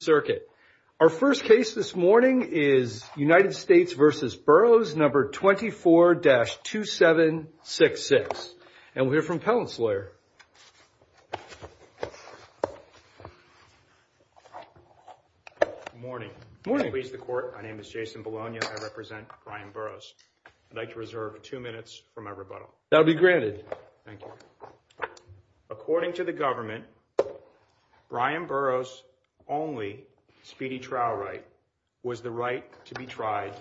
Circuit. Our first case this morning is United States v. Burrows, number 24-2766. And we'll hear from Pellant's lawyer. Good morning. Good morning. Please the court. My name is Jason Bologna. I represent Brian Burrows. I'd like to reserve two minutes from my rebuttal. That'll be granted. Thank you. According to the government, Brian Burrows' only speedy trial right was the right to be tried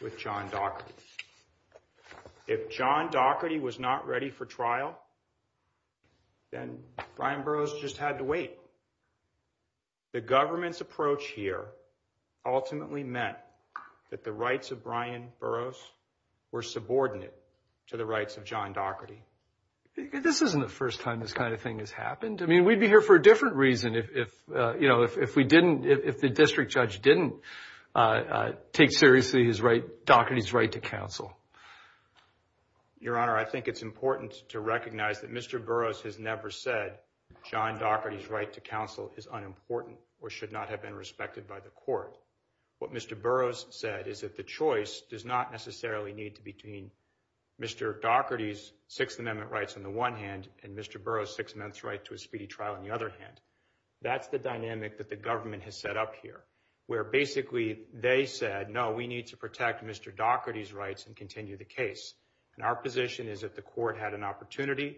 with John Doherty. If John Doherty was not ready for trial, then Brian Burrows just had to wait. The government's approach here ultimately meant that the rights of Brian Burrows were subordinate to the rights of John Doherty. This isn't the first time this kind of thing has happened. I mean, we'd be here for a different reason if the district judge didn't take seriously Doherty's right to counsel. Your Honor, I think it's important to recognize that Mr. Burrows has never said John Doherty's right to counsel is unimportant or should not have been respected by the court. What Mr. Burrows said is that the choice does not necessarily need to be between Mr. Doherty's Sixth Amendment rights on the one hand and Mr. Burrows' Sixth Amendment rights to a speedy trial on the other hand. That's the dynamic that the government has set up here, where basically they said, no, we need to protect Mr. Doherty's rights and continue the case. And our position is that the court had an opportunity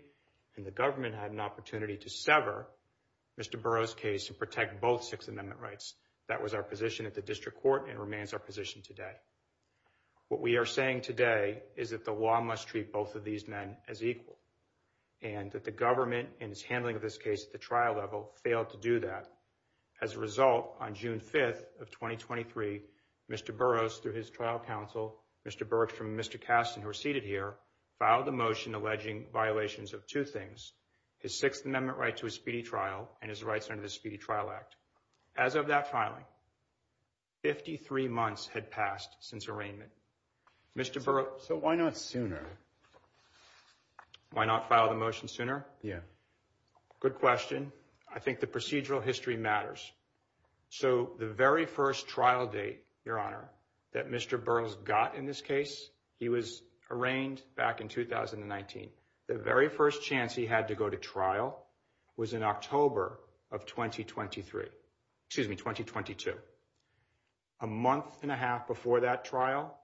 and the government had an opportunity to sever Mr. Burrows' case and protect both Sixth Amendment rights. That was our position at the district court and remains our position today. What we are saying today is that the law must treat both of these men as equal and that the government and its handling of this case at the trial level failed to do that. As a result, on June 5th of 2023, Mr. Burrows, through his trial counsel, Mr. Burks and Mr. Kasten, who are seated here, filed a motion alleging violations of two things, his Sixth Amendment right to a speedy trial and his rights under the Speedy Trial Act. As of that filing, 53 months had passed since arraignment. Mr. Burrows... So why not sooner? Why not file the motion sooner? Yeah. Good question. I think the procedural history matters. So the very first trial date, Your Honor, that Mr. Burrows got in this case, he was arraigned back in 2019. The very first chance he had to go to trial was in October of 2023. Excuse me, 2022. A month and a half before that trial,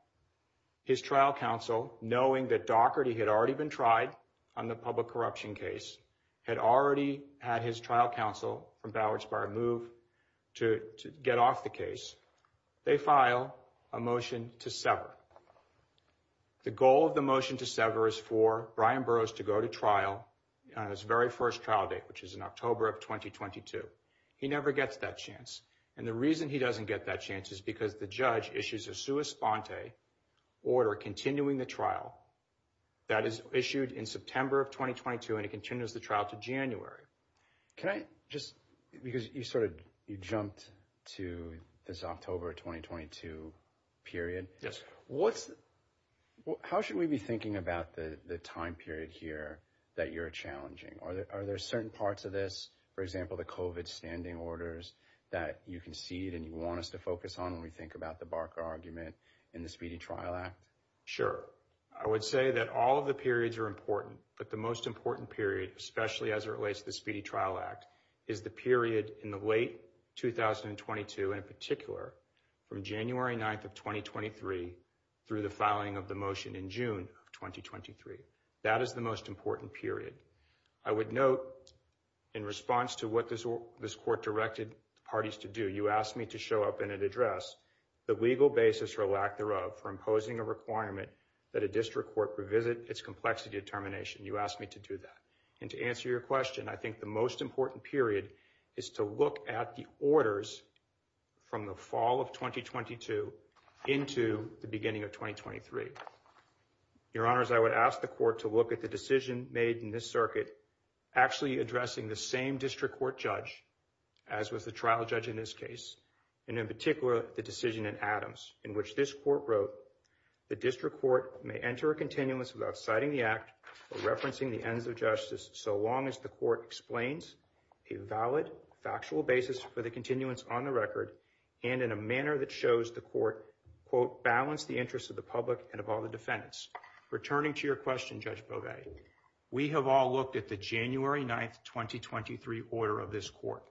his trial counsel, knowing that Daugherty had already been tried on the public corruption case, had already had his trial counsel from Bowery-Spire move to get off the case, they file a motion to sever. The goal of the motion to sever is for Brian Burrows to go to trial on his very first trial date, which is in October of 2022. He never gets that chance. And the reason he doesn't get that chance is because the judge issues a sua sponte order continuing the trial that is issued in September of 2022, and it continues the trial to January. Can I just... Because you sort of... You jumped to this October 2022 period. Yes. How should we be thinking about the time period here that you're challenging? Are there certain parts of this? For example, the COVID standing orders that you concede and you want us to focus on when we think about the Barker argument and the Speedy Trial Act? Sure. I would say that all of the periods are important, but the most important period, especially as it relates to the Speedy Trial Act, is the period in the late 2022, in particular, from January 9th of 2023 through the filing of the motion in June of 2023. That is the most important period. I would note, in response to what this court directed parties to do, you asked me to show up in an address, the legal basis for lack thereof for imposing a requirement that a district court revisit its complexity determination. You asked me to do that. And to answer your question, I think the most important period is to look at the orders from the fall of 2022 into the beginning of 2023. Your Honors, I would ask the court to look at the decision made in this circuit, actually addressing the same district court judge, as was the trial judge in this case, and in particular, the decision in Adams, in which this court wrote, the district court may enter a continuance without citing the act or referencing the ends of justice so long as the court explains a valid, factual basis for the continuance on the record and in a manner that shows the court, quote, balance the interests of the public and of all the defendants. Returning to your question, Judge Beauvais, we have all looked at the January 9th, 2023 order of this court.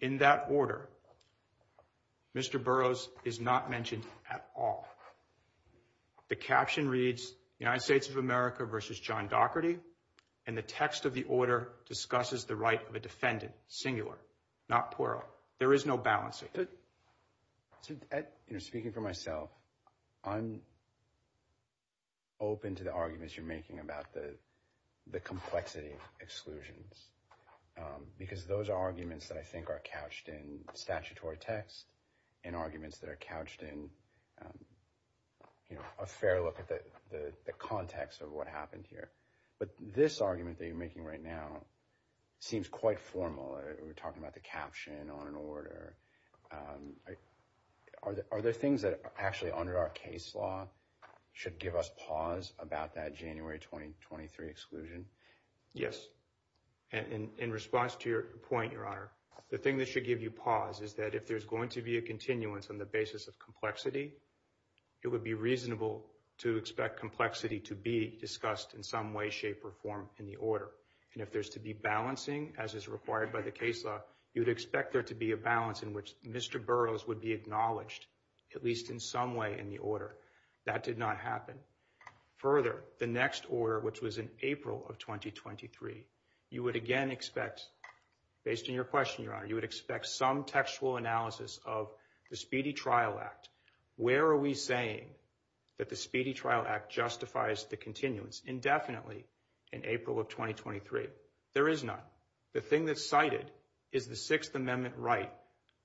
In that order, Mr. Burroughs is not mentioned at all. The caption reads, United States of America versus John Doherty, and the text of the order discusses the right of a defendant, singular, not plural. There is no balancing. Speaking for myself, I'm open to the arguments you're making about the complexity of exclusions because those are arguments that I think are couched in statutory text and arguments that are couched in a fair look at the context of what happened here. But this argument that you're making right now seems quite formal. We're talking about the caption on an order. Are there things that actually under our case law should give us pause about that January 2023 exclusion? Yes. And in response to your point, Your Honor, the thing that should give you pause is that if there's going to be a continuance on the basis of complexity, it would be reasonable to expect complexity to be discussed in some way, shape, or form in the order. And if there's to be balancing, as is required by the case law, you'd expect there to be a balance in which Mr. Burroughs would be acknowledged, at least in some way, in the That did not happen. Further, the next order, which was in April of 2023, you would again expect, based on your question, Your Honor, you would expect some textual analysis of the Speedy Trial Act. Where are we saying that the Speedy Trial Act justifies the continuance? Indefinitely, in April of 2023. There is none. The thing that's cited is the Sixth Amendment right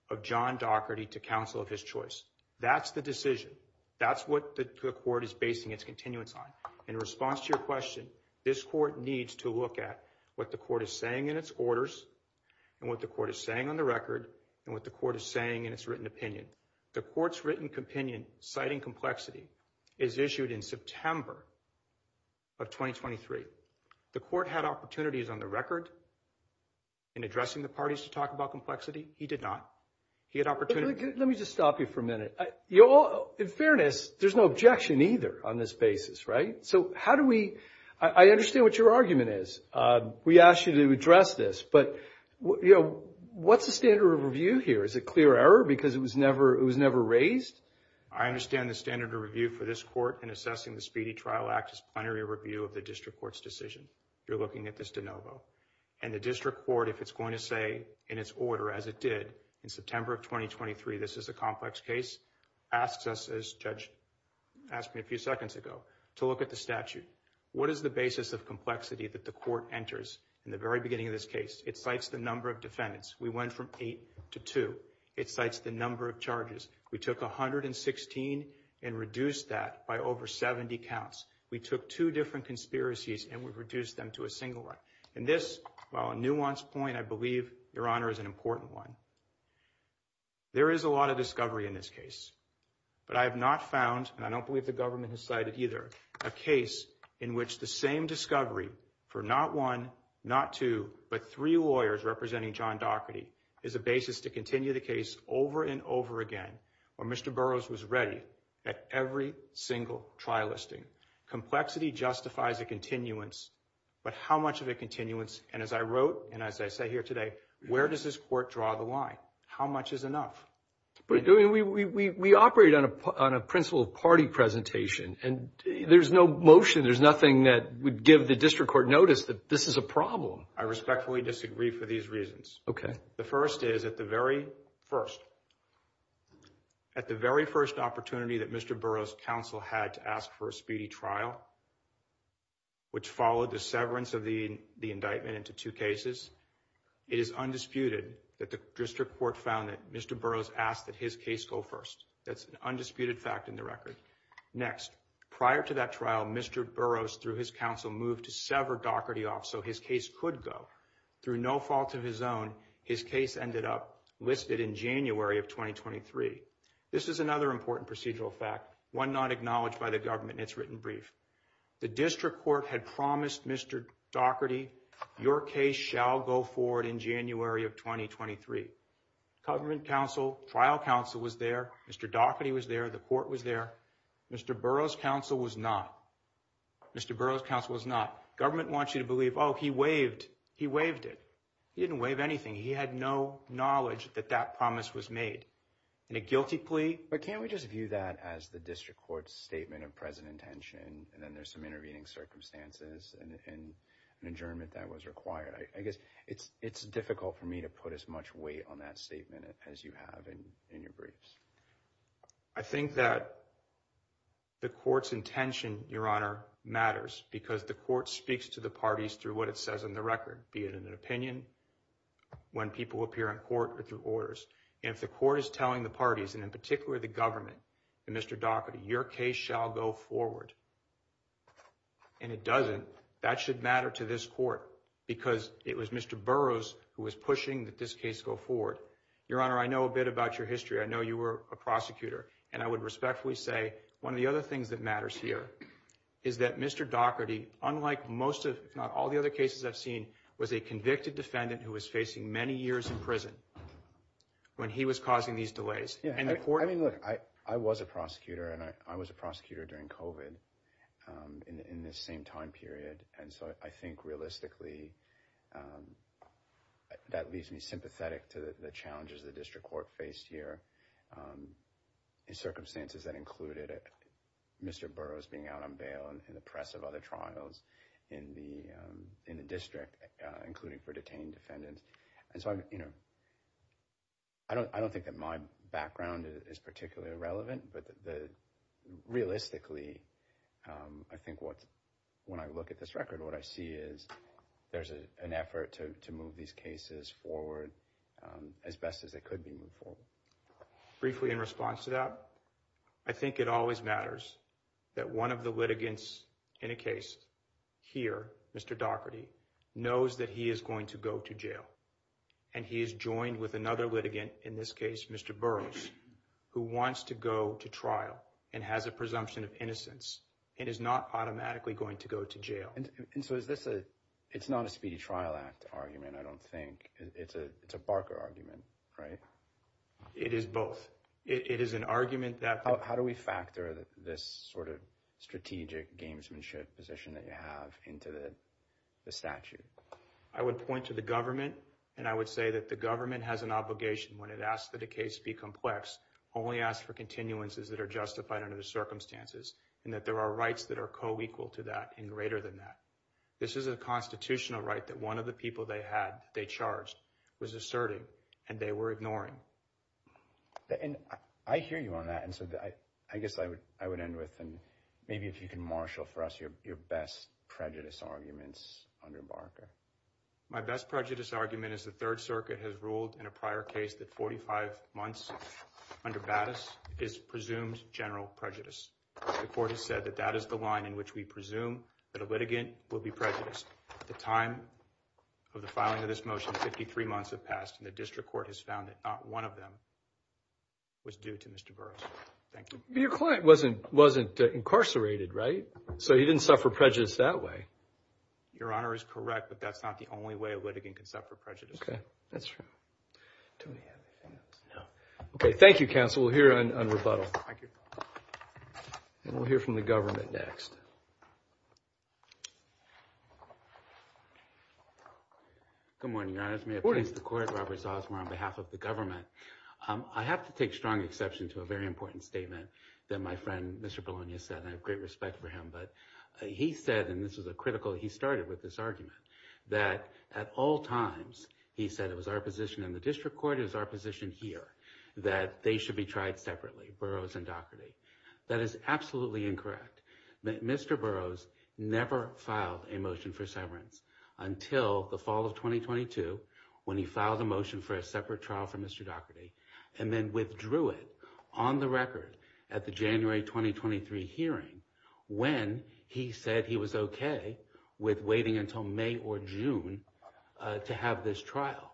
of John Dougherty to counsel of his choice. That's the decision. That's what the court is basing its continuance on. In response to your question, this court needs to look at what the court is saying in its orders, and what the court is saying on the record, and what the court is saying in its written opinion. The court's written opinion, citing complexity, is issued in September of 2023. The court had opportunities on the record in addressing the parties to talk about complexity. He did not. He had opportunities... Let me just stop you for a minute. In fairness, there's no objection either on this basis, right? So how do we... I understand what your argument is. We asked you to address this, but what's the standard of review here? Is it clear error because it was never raised? I understand the standard of review for this court in assessing the Speedy Trial Act is plenary review of the district court's decision. You're looking at this de novo. And the district court, if it's going to say in its order, as it did in September of 2023, this is a complex case, asks us, as Judge asked me a few seconds ago, to look at the statute. What is the basis of complexity that the court enters in the very beginning of this case? It cites the number of defendants. We went from eight to two. It cites the number of charges. We took 116 and reduced that by over 70 counts. We took two different conspiracies and we reduced them to a single one. And this, while a nuanced point, I believe, Your Honor, is an important one. There is a lot of discovery in this case, but I have not found, and I don't believe the government has cited either, a case in which the same discovery for not one, not two, but three lawyers representing John Doherty is a basis to continue the case over and over again, where Mr. Burroughs was ready at every single trial listing. Complexity justifies a continuance, but how much of a continuance? And as I wrote, and as I say here today, where does this court draw the line? How much is enough? We operate on a principle of party presentation. And there's no motion. There's nothing that would give the district court notice that this is a problem. I respectfully disagree for these reasons. The first is, at the very first opportunity that Mr. Burroughs' counsel had to ask for a speedy trial, which followed the severance of the indictment into two cases, it is undisputed that the district court found that Mr. Burroughs asked that his case go first. That's an undisputed fact in the record. Next, prior to that trial, Mr. Burroughs, through his counsel, moved to sever Doherty off so his case could go. Through no fault of his own, his case ended up listed in January of 2023. This is another important procedural fact, one not acknowledged by the government, and it's written brief. The district court had promised Mr. Doherty, your case shall go forward in January of 2023. Government counsel, trial counsel was there. Mr. Doherty was there. The court was there. Mr. Burroughs' counsel was not. Mr. Burroughs' counsel was not. Government wants you to believe, oh, he waived. He waived it. He didn't waive anything. He had no knowledge that that promise was made in a guilty plea. But can't we just view that as the district court's statement of present intention, and then there's some intervening circumstances and an adjournment that was required? I guess it's difficult for me to put as much weight on that statement as you have in your briefs. I think that the court's intention, Your Honor, matters because the court speaks to the parties through what it says on the record, be it in an opinion, when people appear in court, or through orders. And if the court is telling the parties, and in particular the government, that Mr. Doherty, your case shall go forward, and it doesn't, that should matter to this court because it was Mr. Burroughs who was pushing that this case go forward. Your Honor, I know a bit about your history. I know you were a prosecutor. And I would respectfully say one of the other things that matters here is that Mr. Doherty, unlike most, if not all the other cases I've seen, was a convicted defendant who was facing many years in prison when he was causing these delays. Yeah, I mean, look, I was a prosecutor, and I was a prosecutor during COVID in this same time period. And so I think realistically that leaves me sympathetic to the challenges the district court faced here in circumstances that included Mr. Burroughs being out on bail and the press of other trials in the district, including for detained defendants. And so I don't think that my background is particularly relevant, but realistically, I think when I look at this record, what I see is there's an effort to move these cases forward as best as they could be moved forward. Briefly in response to that, I think it always matters that one of the litigants in a case here, Mr. Doherty, knows that he is going to go to jail. And he is joined with another litigant, in this case, Mr. Burroughs, who wants to go to trial and has a presumption of innocence and is not automatically going to go to jail. And so is this a, it's not a Speedy Trial Act argument, I don't think. It's a Barker argument, right? It is both. It is an argument that- How do we factor this sort of strategic gamesmanship position that you have into the statute? I would point to the government, and I would say that the government has an obligation when it asks that a case be complex, only ask for continuances that are justified under the circumstances and that there are rights that are co-equal to that and greater than that. This is a constitutional right that one of the people they had, they charged, was asserting and they were ignoring. And I hear you on that. And so I guess I would end with, and maybe if you can marshal for us your best prejudice arguments under Barker. My best prejudice argument is the Third Circuit has ruled in a prior case that 45 months under Battis is presumed general prejudice. The court has said that that is the line in which we presume that a litigant will be prejudiced. The time of the filing of this motion, 53 months have passed, and the district court has found that not one of them was due to Mr. Burroughs. Thank you. Your client wasn't incarcerated, right? So he didn't suffer prejudice that way. Your Honor is correct, but that's not the only way a litigant can suffer prejudice. Okay, that's true. Do we have anything else? No. Okay, thank you, counsel. We'll hear on rebuttal. And we'll hear from the government next. Good morning, Your Honor. May I please the court? Robert Zosmar on behalf of the government. I have to take strong exception to a very important statement that my friend, Mr. Bologna, said, and I have great respect for him. But he said, and this is a critical, he started with this argument, that at all times he said it was our position in the district court, it was our position here, that they should be tried separately, Burroughs and Dougherty. That is absolutely incorrect. Mr. Burroughs never filed a motion for severance until the fall of 2022 when he filed a motion for a separate trial for Mr. Dougherty and then withdrew it on the record at the January 2023 hearing when he said he was okay with waiting until May or June to have this trial.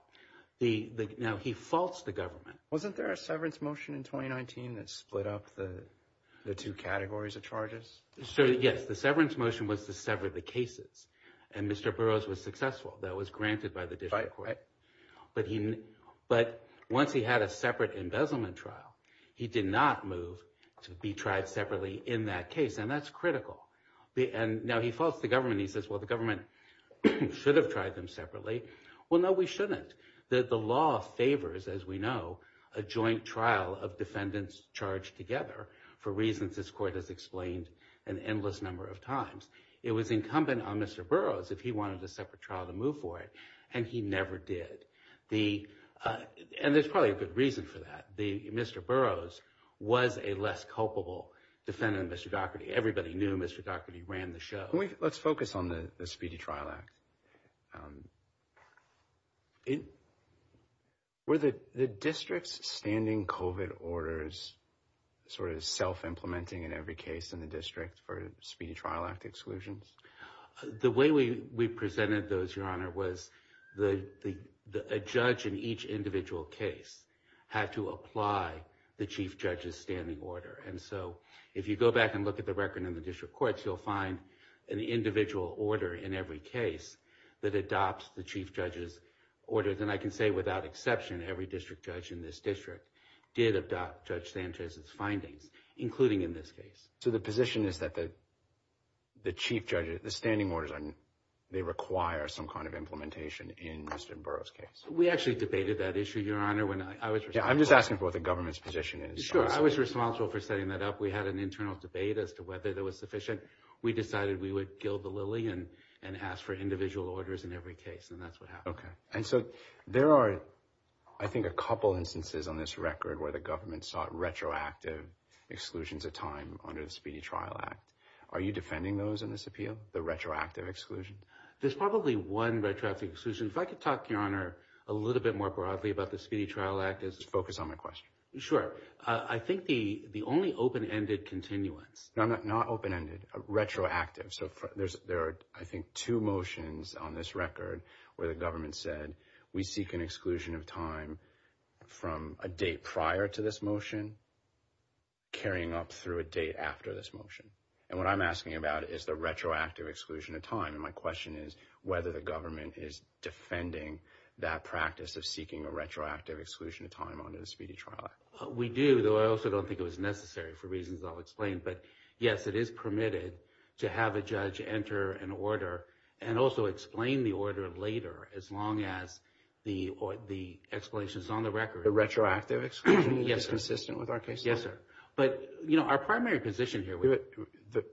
Now, he faults the government. Wasn't there a severance motion in 2019 that split up the two categories of charges? So, yes, the severance motion was to sever the cases. And Mr. Burroughs was successful. That was granted by the district court. But once he had a separate embezzlement trial, he did not move to be tried separately in that case. And that's critical. And now he faults the government. He says, well, the government should have tried them separately. Well, no, we shouldn't. The law favors, as we know, a joint trial of defendants charged together for reasons this court has explained an endless number of times. It was incumbent on Mr. Burroughs if he wanted a separate trial to move for it. And he never did. And there's probably a good reason for that. Mr. Burroughs was a less culpable defendant than Mr. Dougherty. Everybody knew Mr. Dougherty ran the show. Let's focus on the Speedy Trial Act. Were the district's standing COVID orders sort of self-implementing in every case in the district for Speedy Trial Act exclusions? The way we presented those, Your Honor, was a judge in each individual case had to apply the chief judge's standing order. And so if you go back and look at the record in the district courts, you'll find an individual order in every case that adopts the chief judge's order. Then I can say without exception, every district judge in this district did adopt Judge Sanchez's findings, including in this case. So the position is that the chief judge, the standing orders, they require some kind of implementation in Mr. Burroughs' case? We actually debated that issue, Your Honor. I'm just asking for what the government's position is. I was responsible for setting that up. We had an internal debate as to whether that was sufficient. We decided we would gild the lily and ask for individual orders in every case, and that's what happened. And so there are, I think, a couple instances on this record where the government sought retroactive exclusions of time under the Speedy Trial Act. Are you defending those in this appeal, the retroactive exclusion? There's probably one retroactive exclusion. If I could talk, Your Honor, a little bit more broadly about the Speedy Trial Act. Focus on my question. Sure. I think the only open-ended continuance... No, not open-ended. Retroactive. So there are, I think, two motions on this record where the government said, we seek an exclusion of time from a date prior to this motion, carrying up through a date after this motion. And what I'm asking about is the retroactive exclusion of time. And my question is whether the government is defending that practice of seeking a retroactive exclusion of time under the Speedy Trial Act. We do, though I also don't think it was necessary for reasons I'll explain. But yes, it is permitted to have a judge enter an order and also explain the order later as long as the explanation is on the record. The retroactive exclusion is consistent with our case law? Yes, sir. But, you know, our primary position here...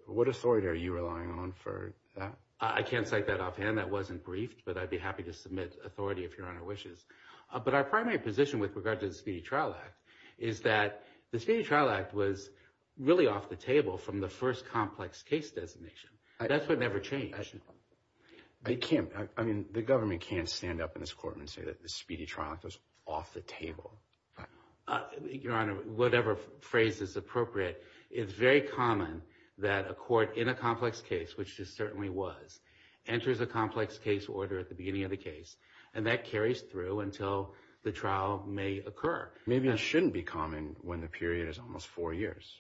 What authority are you relying on for that? I can't cite that offhand. That wasn't briefed, but I'd be happy to submit authority if Your Honor wishes. But our primary position with regard to the Speedy Trial Act is that the Speedy Trial Act was really off the table from the first complex case designation. That's what never changed. I can't... I mean, the government can't stand up in this court and say that the Speedy Trial Act was off the table. Your Honor, whatever phrase is appropriate, it's very common that a court in a complex case, which it certainly was, enters a complex case order at the beginning of the case, and that carries through until the trial may occur. Maybe it shouldn't be common when the period is almost four years,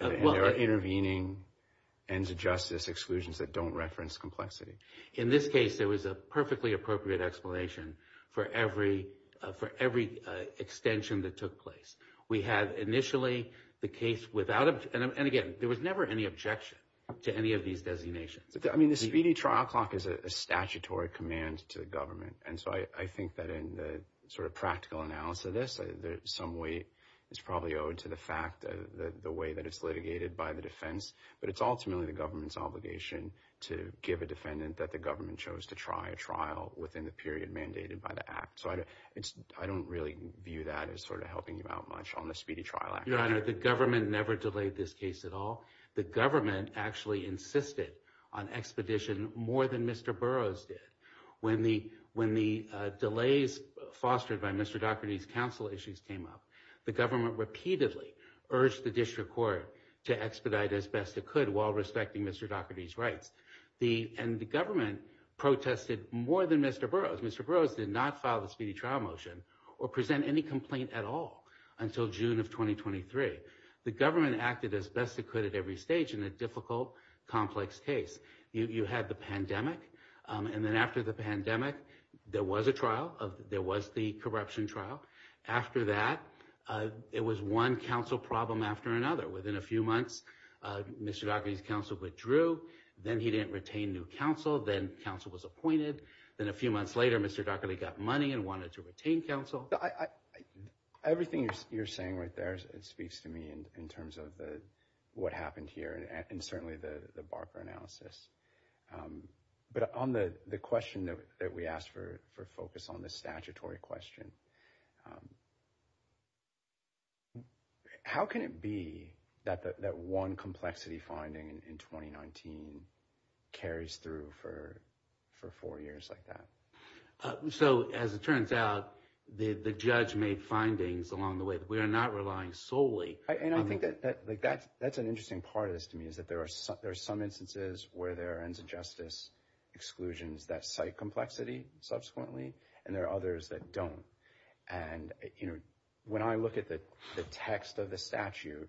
and there are intervening ends of justice exclusions that don't reference complexity. In this case, there was a perfectly appropriate explanation for every extension that took place. We had initially the case without... And again, there was never any objection to any of these designations. I mean, the Speedy Trial Clock is a statutory command to the government, and so I think that in the sort of practical analysis of this, some weight is probably owed to the fact of the way that it's litigated by the defense, but it's ultimately the government's obligation to give a defendant that the government chose to try a trial within the period mandated by the Act. So I don't really view that as sort of helping you out much on the Speedy Trial Act. Your Honor, the government never delayed this case at all. The government actually insisted on expedition more than Mr. Burroughs did. When the delays fostered by Mr. Daugherty's counsel issues came up, the government repeatedly urged the district court to expedite as best it could while respecting Mr. Daugherty's rights, and the government protested more than Mr. Burroughs. Mr. Burroughs did not file the Speedy Trial Motion or present any complaint at all until June of 2023. The government acted as best it could at every stage in a difficult, complex case. You had the pandemic, and then after the pandemic, there was a trial. There was the corruption trial. After that, it was one counsel problem after another. Within a few months, Mr. Daugherty's counsel withdrew. Then he didn't retain new counsel. Then counsel was appointed. Then a few months later, Mr. Daugherty got money and wanted to retain counsel. Well, everything you're saying right there, it speaks to me in terms of what happened here, and certainly the Barker analysis. But on the question that we asked for focus on, the statutory question, how can it be that one complexity finding in 2019 carries through for four years like that? So, as it turns out, the judge made findings along the way. We are not relying solely on- I think that's an interesting part of this to me, is that there are some instances where there are ends of justice exclusions that cite complexity subsequently, and there are others that don't. When I look at the text of the statute,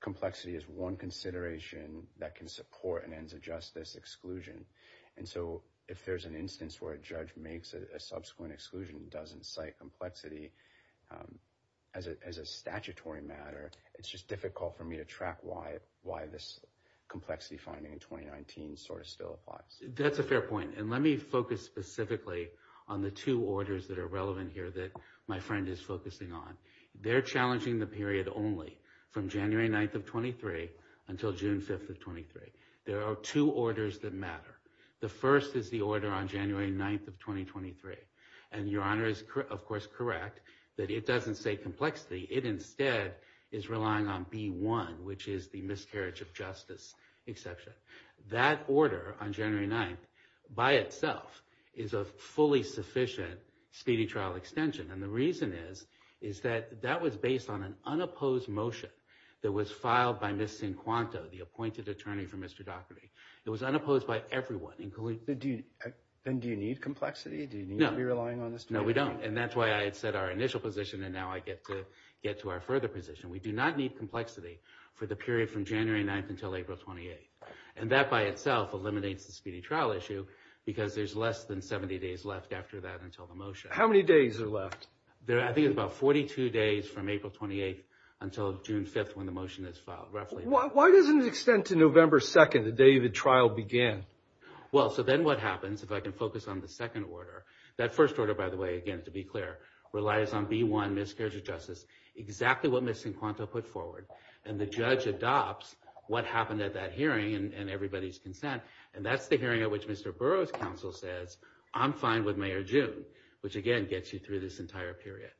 complexity is one consideration that can support an ends of justice exclusion. And so, if there's an instance where a judge makes a subsequent exclusion and doesn't cite complexity as a statutory matter, it's just difficult for me to track why this complexity finding in 2019 still applies. That's a fair point, and let me focus specifically on the two orders that are relevant here that my friend is focusing on. They're challenging the period only from January 9th of 23 until June 5th of 23. There are two orders that matter. The first is the order on January 9th of 2023, and Your Honor is, of course, correct that it doesn't say complexity. It instead is relying on B1, which is the miscarriage of justice exception. That order on January 9th, by itself, is a fully sufficient speedy trial extension. And the reason is, is that that was based on an unopposed motion that was filed by Ms. Quinn Quanto, the appointed attorney for Mr. Daugherty. It was unopposed by everyone. And do you need complexity? Do you need to be relying on this? No, we don't. And that's why I had said our initial position, and now I get to get to our further position. We do not need complexity for the period from January 9th until April 28th. And that, by itself, eliminates the speedy trial issue, because there's less than 70 days left after that until the motion. How many days are left? There are, I think, about 42 days from April 28th until June 5th, when the motion is filed, roughly. Why doesn't it extend to November 2nd, the day the trial began? Well, so then what happens, if I can focus on the second order, that first order, by the way, again, to be clear, relies on B1, miscarriage of justice, exactly what Ms. Quinn Quanto put forward. And the judge adopts what happened at that hearing and everybody's consent. And that's the hearing at which Mr. Burroughs' counsel says, I'm fine with May or June, which, again, gets you through this entire period.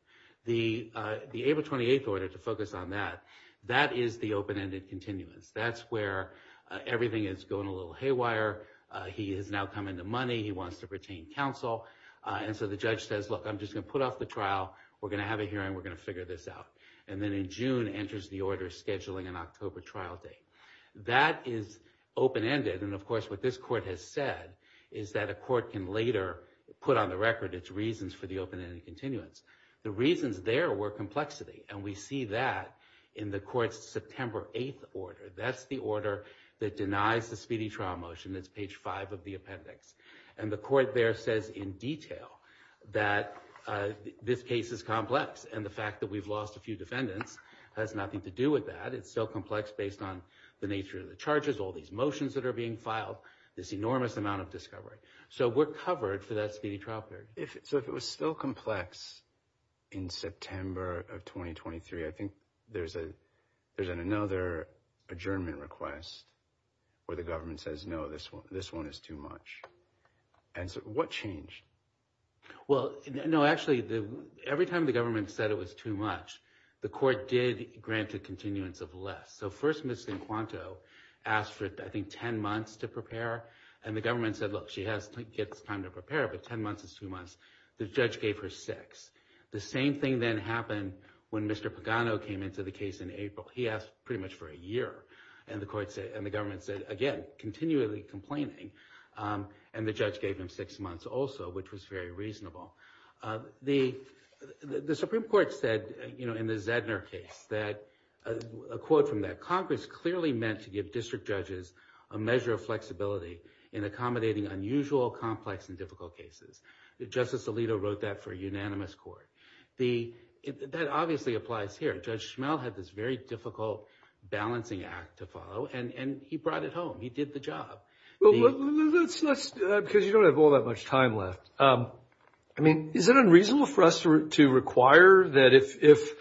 The April 28th order, to focus on that, that is the open-ended continuance. That's where everything is going a little haywire. He has now come into money. He wants to retain counsel. And so the judge says, look, I'm just going to put off the trial. We're going to have a hearing. We're going to figure this out. And then in June, enters the order scheduling an October trial date. That is open-ended. And of course, what this court has said is that a court can later put on the record its reasons for the open-ended continuance. The reasons there were complexity. And we see that in the court's September 8th order. That's the order that denies the speedy trial motion. That's page 5 of the appendix. And the court there says in detail that this case is complex. And the fact that we've lost a few defendants has nothing to do with that. It's so complex based on the nature of the charges, all these motions that are being filed, this enormous amount of discovery. So we're covered for that speedy trial period. So if it was still complex in September of 2023, I think there's another adjournment request where the government says, no, this one is too much. And so what changed? Well, no, actually, every time the government said it was too much, the court did grant a continuance of less. So first, Ms. Cinquanto asked for, I think, 10 months to prepare. And the government said, look, she has to get time to prepare. But 10 months is two months. The judge gave her six. The same thing then happened when Mr. Pagano came into the case in April. He asked pretty much for a year. And the government said, again, continually complaining. And the judge gave him six months also, which was very reasonable. The Supreme Court said in the Zedner case that, a quote from that, Congress clearly meant to give district judges a measure of flexibility in accommodating unusual, complex, and difficult cases. Justice Alito wrote that for a unanimous court. That obviously applies here. Judge Schmell had this very difficult balancing act to follow. And he brought it home. He did the job. Because you don't have all that much time left. I mean, is it unreasonable for us to require that if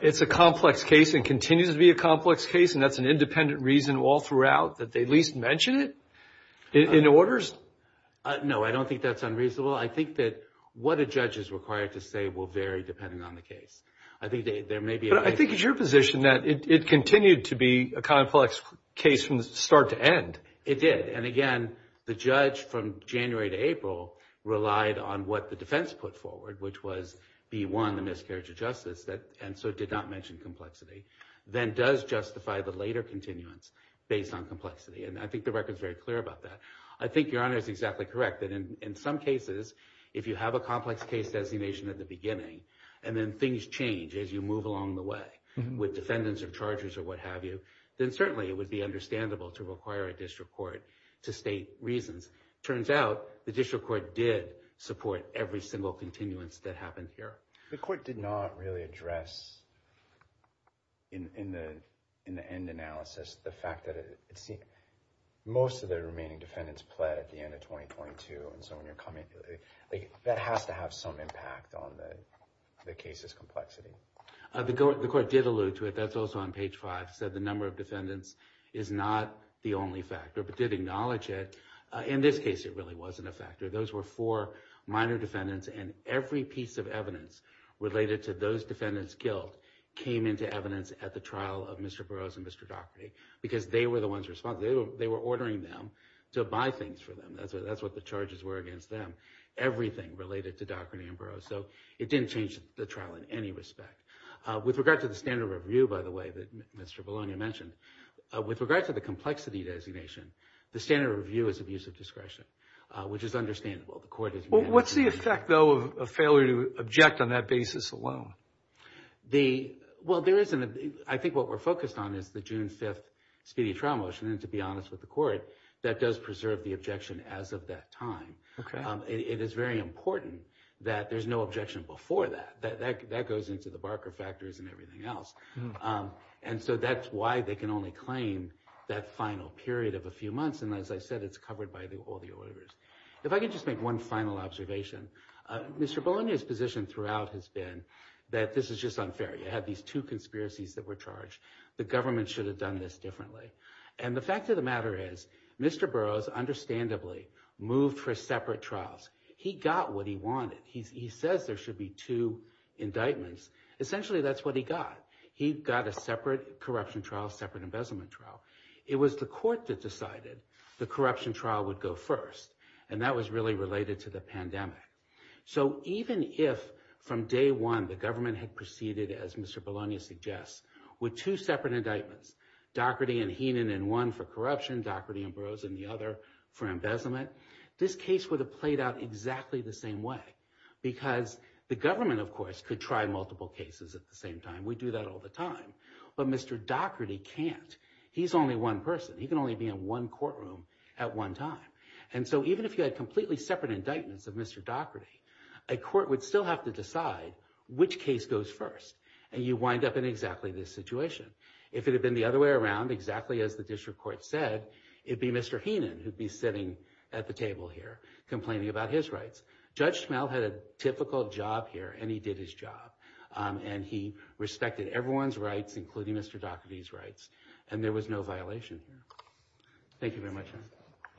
it's a complex case and continues to be a complex case, and that's an independent reason all throughout, that they at least mention it in orders? No, I don't think that's unreasonable. I think that what a judge is required to say will vary depending on the case. I think there may be a- But I think it's your position that it continued to be a complex case from start to end. It did. And again, the judge from January to April relied on what the defense put forward, which was B1, the miscarriage of justice, and so did not mention complexity, then does justify the later continuance based on complexity. And I think the record's very clear about that. I think your honor is exactly correct, that in some cases, if you have a complex case designation at the beginning, and then things change as you move along the way with defendants or chargers or what have you, then certainly it would be understandable to require a district court to state reasons. Turns out, the district court did support every single continuance that happened here. The court did not really address, in the end analysis, the fact that most of the remaining defendants pled at the end of 2022. And so when you're coming, that has to have some impact on the case's complexity. The court did allude to it. That's also on page five, said the number of defendants is not the only factor, but did acknowledge it. In this case, it really wasn't a factor. Those were four minor defendants, and every piece of evidence related to those defendants killed came into evidence at the trial of Mr. Burroughs and Mr. Daugherty, because they were the ones responsible. They were ordering them to buy things for them. That's what the charges were against them. Everything related to Dr. Ambrose. So it didn't change the trial in any respect. With regard to the standard review, by the way, that Mr. Bologna mentioned, with regard to the complexity designation, the standard review is abuse of discretion, which is understandable. The court is- What's the effect, though, of failure to object on that basis alone? Well, I think what we're focused on is the June 5th speedy trial motion. And to be honest with the court, that does preserve the objection as of that time. It is very important that there's no objection before that. That goes into the Barker factors and everything else. And so that's why they can only claim that final period of a few months. And as I said, it's covered by all the orders. If I could just make one final observation. Mr. Bologna's position throughout has been that this is just unfair. You have these two conspiracies that were charged. The government should have done this differently. And the fact of the matter is Mr. Burroughs understandably moved for separate trials. He got what he wanted. He says there should be two indictments. Essentially, that's what he got. He got a separate corruption trial, separate embezzlement trial. It was the court that decided the corruption trial would go first. And that was really related to the pandemic. So even if from day one, the government had proceeded, as Mr. Bologna suggests, with two separate indictments, Doherty and Heenan in one for corruption, Doherty and Burroughs in the other for embezzlement, this case would have played out exactly the same way. Because the government, of course, could try multiple cases at the same time. We do that all the time. But Mr. Doherty can't. He's only one person. He can only be in one courtroom at one time. And so even if you had completely separate indictments of Mr. Doherty, a court would still have to decide which case goes first. And you wind up in exactly this situation. If it had been the other way around, exactly as the district court said, it'd be Mr. Heenan who'd be sitting at the table here complaining about his rights. Judge Schmelt had a typical job here, and he did his job. And he respected everyone's rights, including Mr. Doherty's rights. And there was no violation. Thank you very much. Yeah.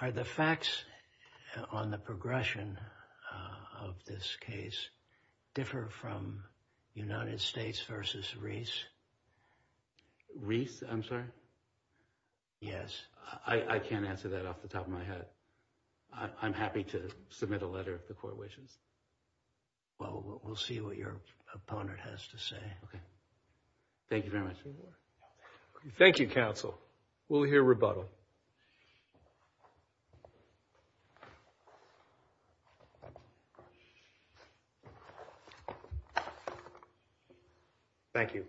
Are the facts on the progression of this case differ from United States versus Reese? Reese, I'm sorry? Yes. I can't answer that off the top of my head. I'm happy to submit a letter if the court wishes. Well, we'll see what your opponent has to say. Okay. Thank you very much. Thank you, counsel. We'll hear rebuttal. Thank you.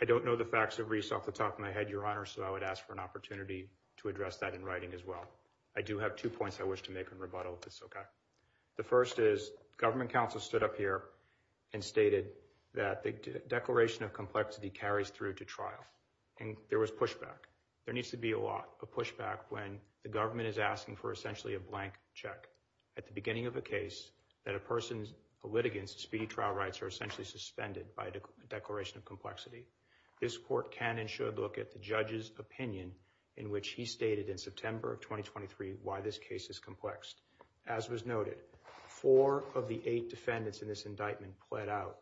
I don't know the facts of Reese off the top of my head, Your Honor, so I would ask for an opportunity to address that in writing as well. I do have two points I wish to make in rebuttal, if it's okay. The first is, government counsel stood up here and stated that the Declaration of Complexity carries through to trial. And there was pushback. There needs to be a lot of pushback when the government is asking for essentially a blank check at the beginning of a case that a person's litigants' speedy trial rights are essentially suspended by a Declaration of Complexity. This court can and should look at the judge's opinion in which he stated in September of 2023 why this case is complexed. As was noted, four of the eight defendants in this indictment pled out.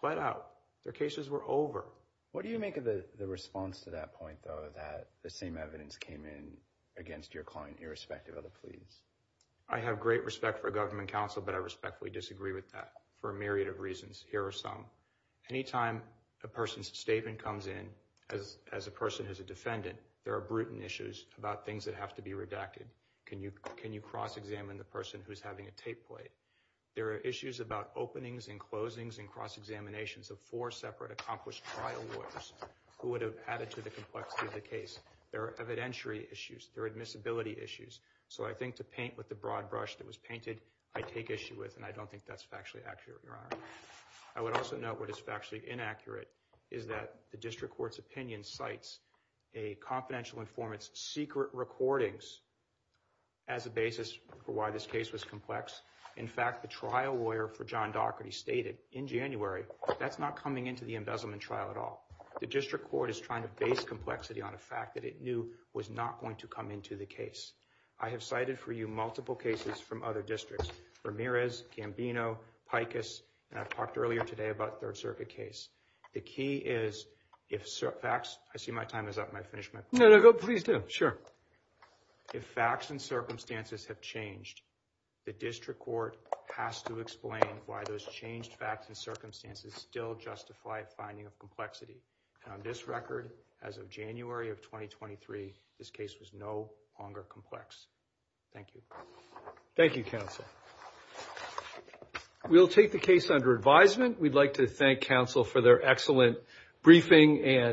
Pled out. Their cases were over. What do you make of the response to that point, though, that the same evidence came in against your client irrespective of the pleas? I have great respect for government counsel, but I respectfully disagree with that for a myriad of reasons. Here are some. Anytime a person's statement comes in as a person who's a defendant, there are brutal issues about things that have to be redacted. Can you cross-examine the person who's having a tape play? There are issues about openings and closings and cross-examinations of four separate accomplished trial lawyers who would have added to the complexity of the case. There are evidentiary issues. There are admissibility issues. So I think to paint with the broad brush that was painted, I take issue with, and I don't think that's factually accurate, Your Honor. I would also note what is factually inaccurate is that the district court's opinion cites a confidential informant's secret recordings as a basis for why this case was complex. In fact, the trial lawyer for John Daugherty stated in January, that's not coming into the embezzlement trial at all. The district court is trying to base complexity on a fact that it knew was not going to come into the case. I have cited for you multiple cases from other districts, Ramirez, Gambino, Pikus, and I talked earlier today about third circuit case. The key is if facts, I see my time is up. May I finish my? No, no, please do. Sure. If facts and circumstances have changed, the district court has to explain why those changed facts and circumstances still justify finding a complexity. And on this record, as of January of 2023, this case was no longer complex. Thank you. Thank you, counsel. We'll take the case under advisement. We'd like to thank counsel for their excellent briefing and.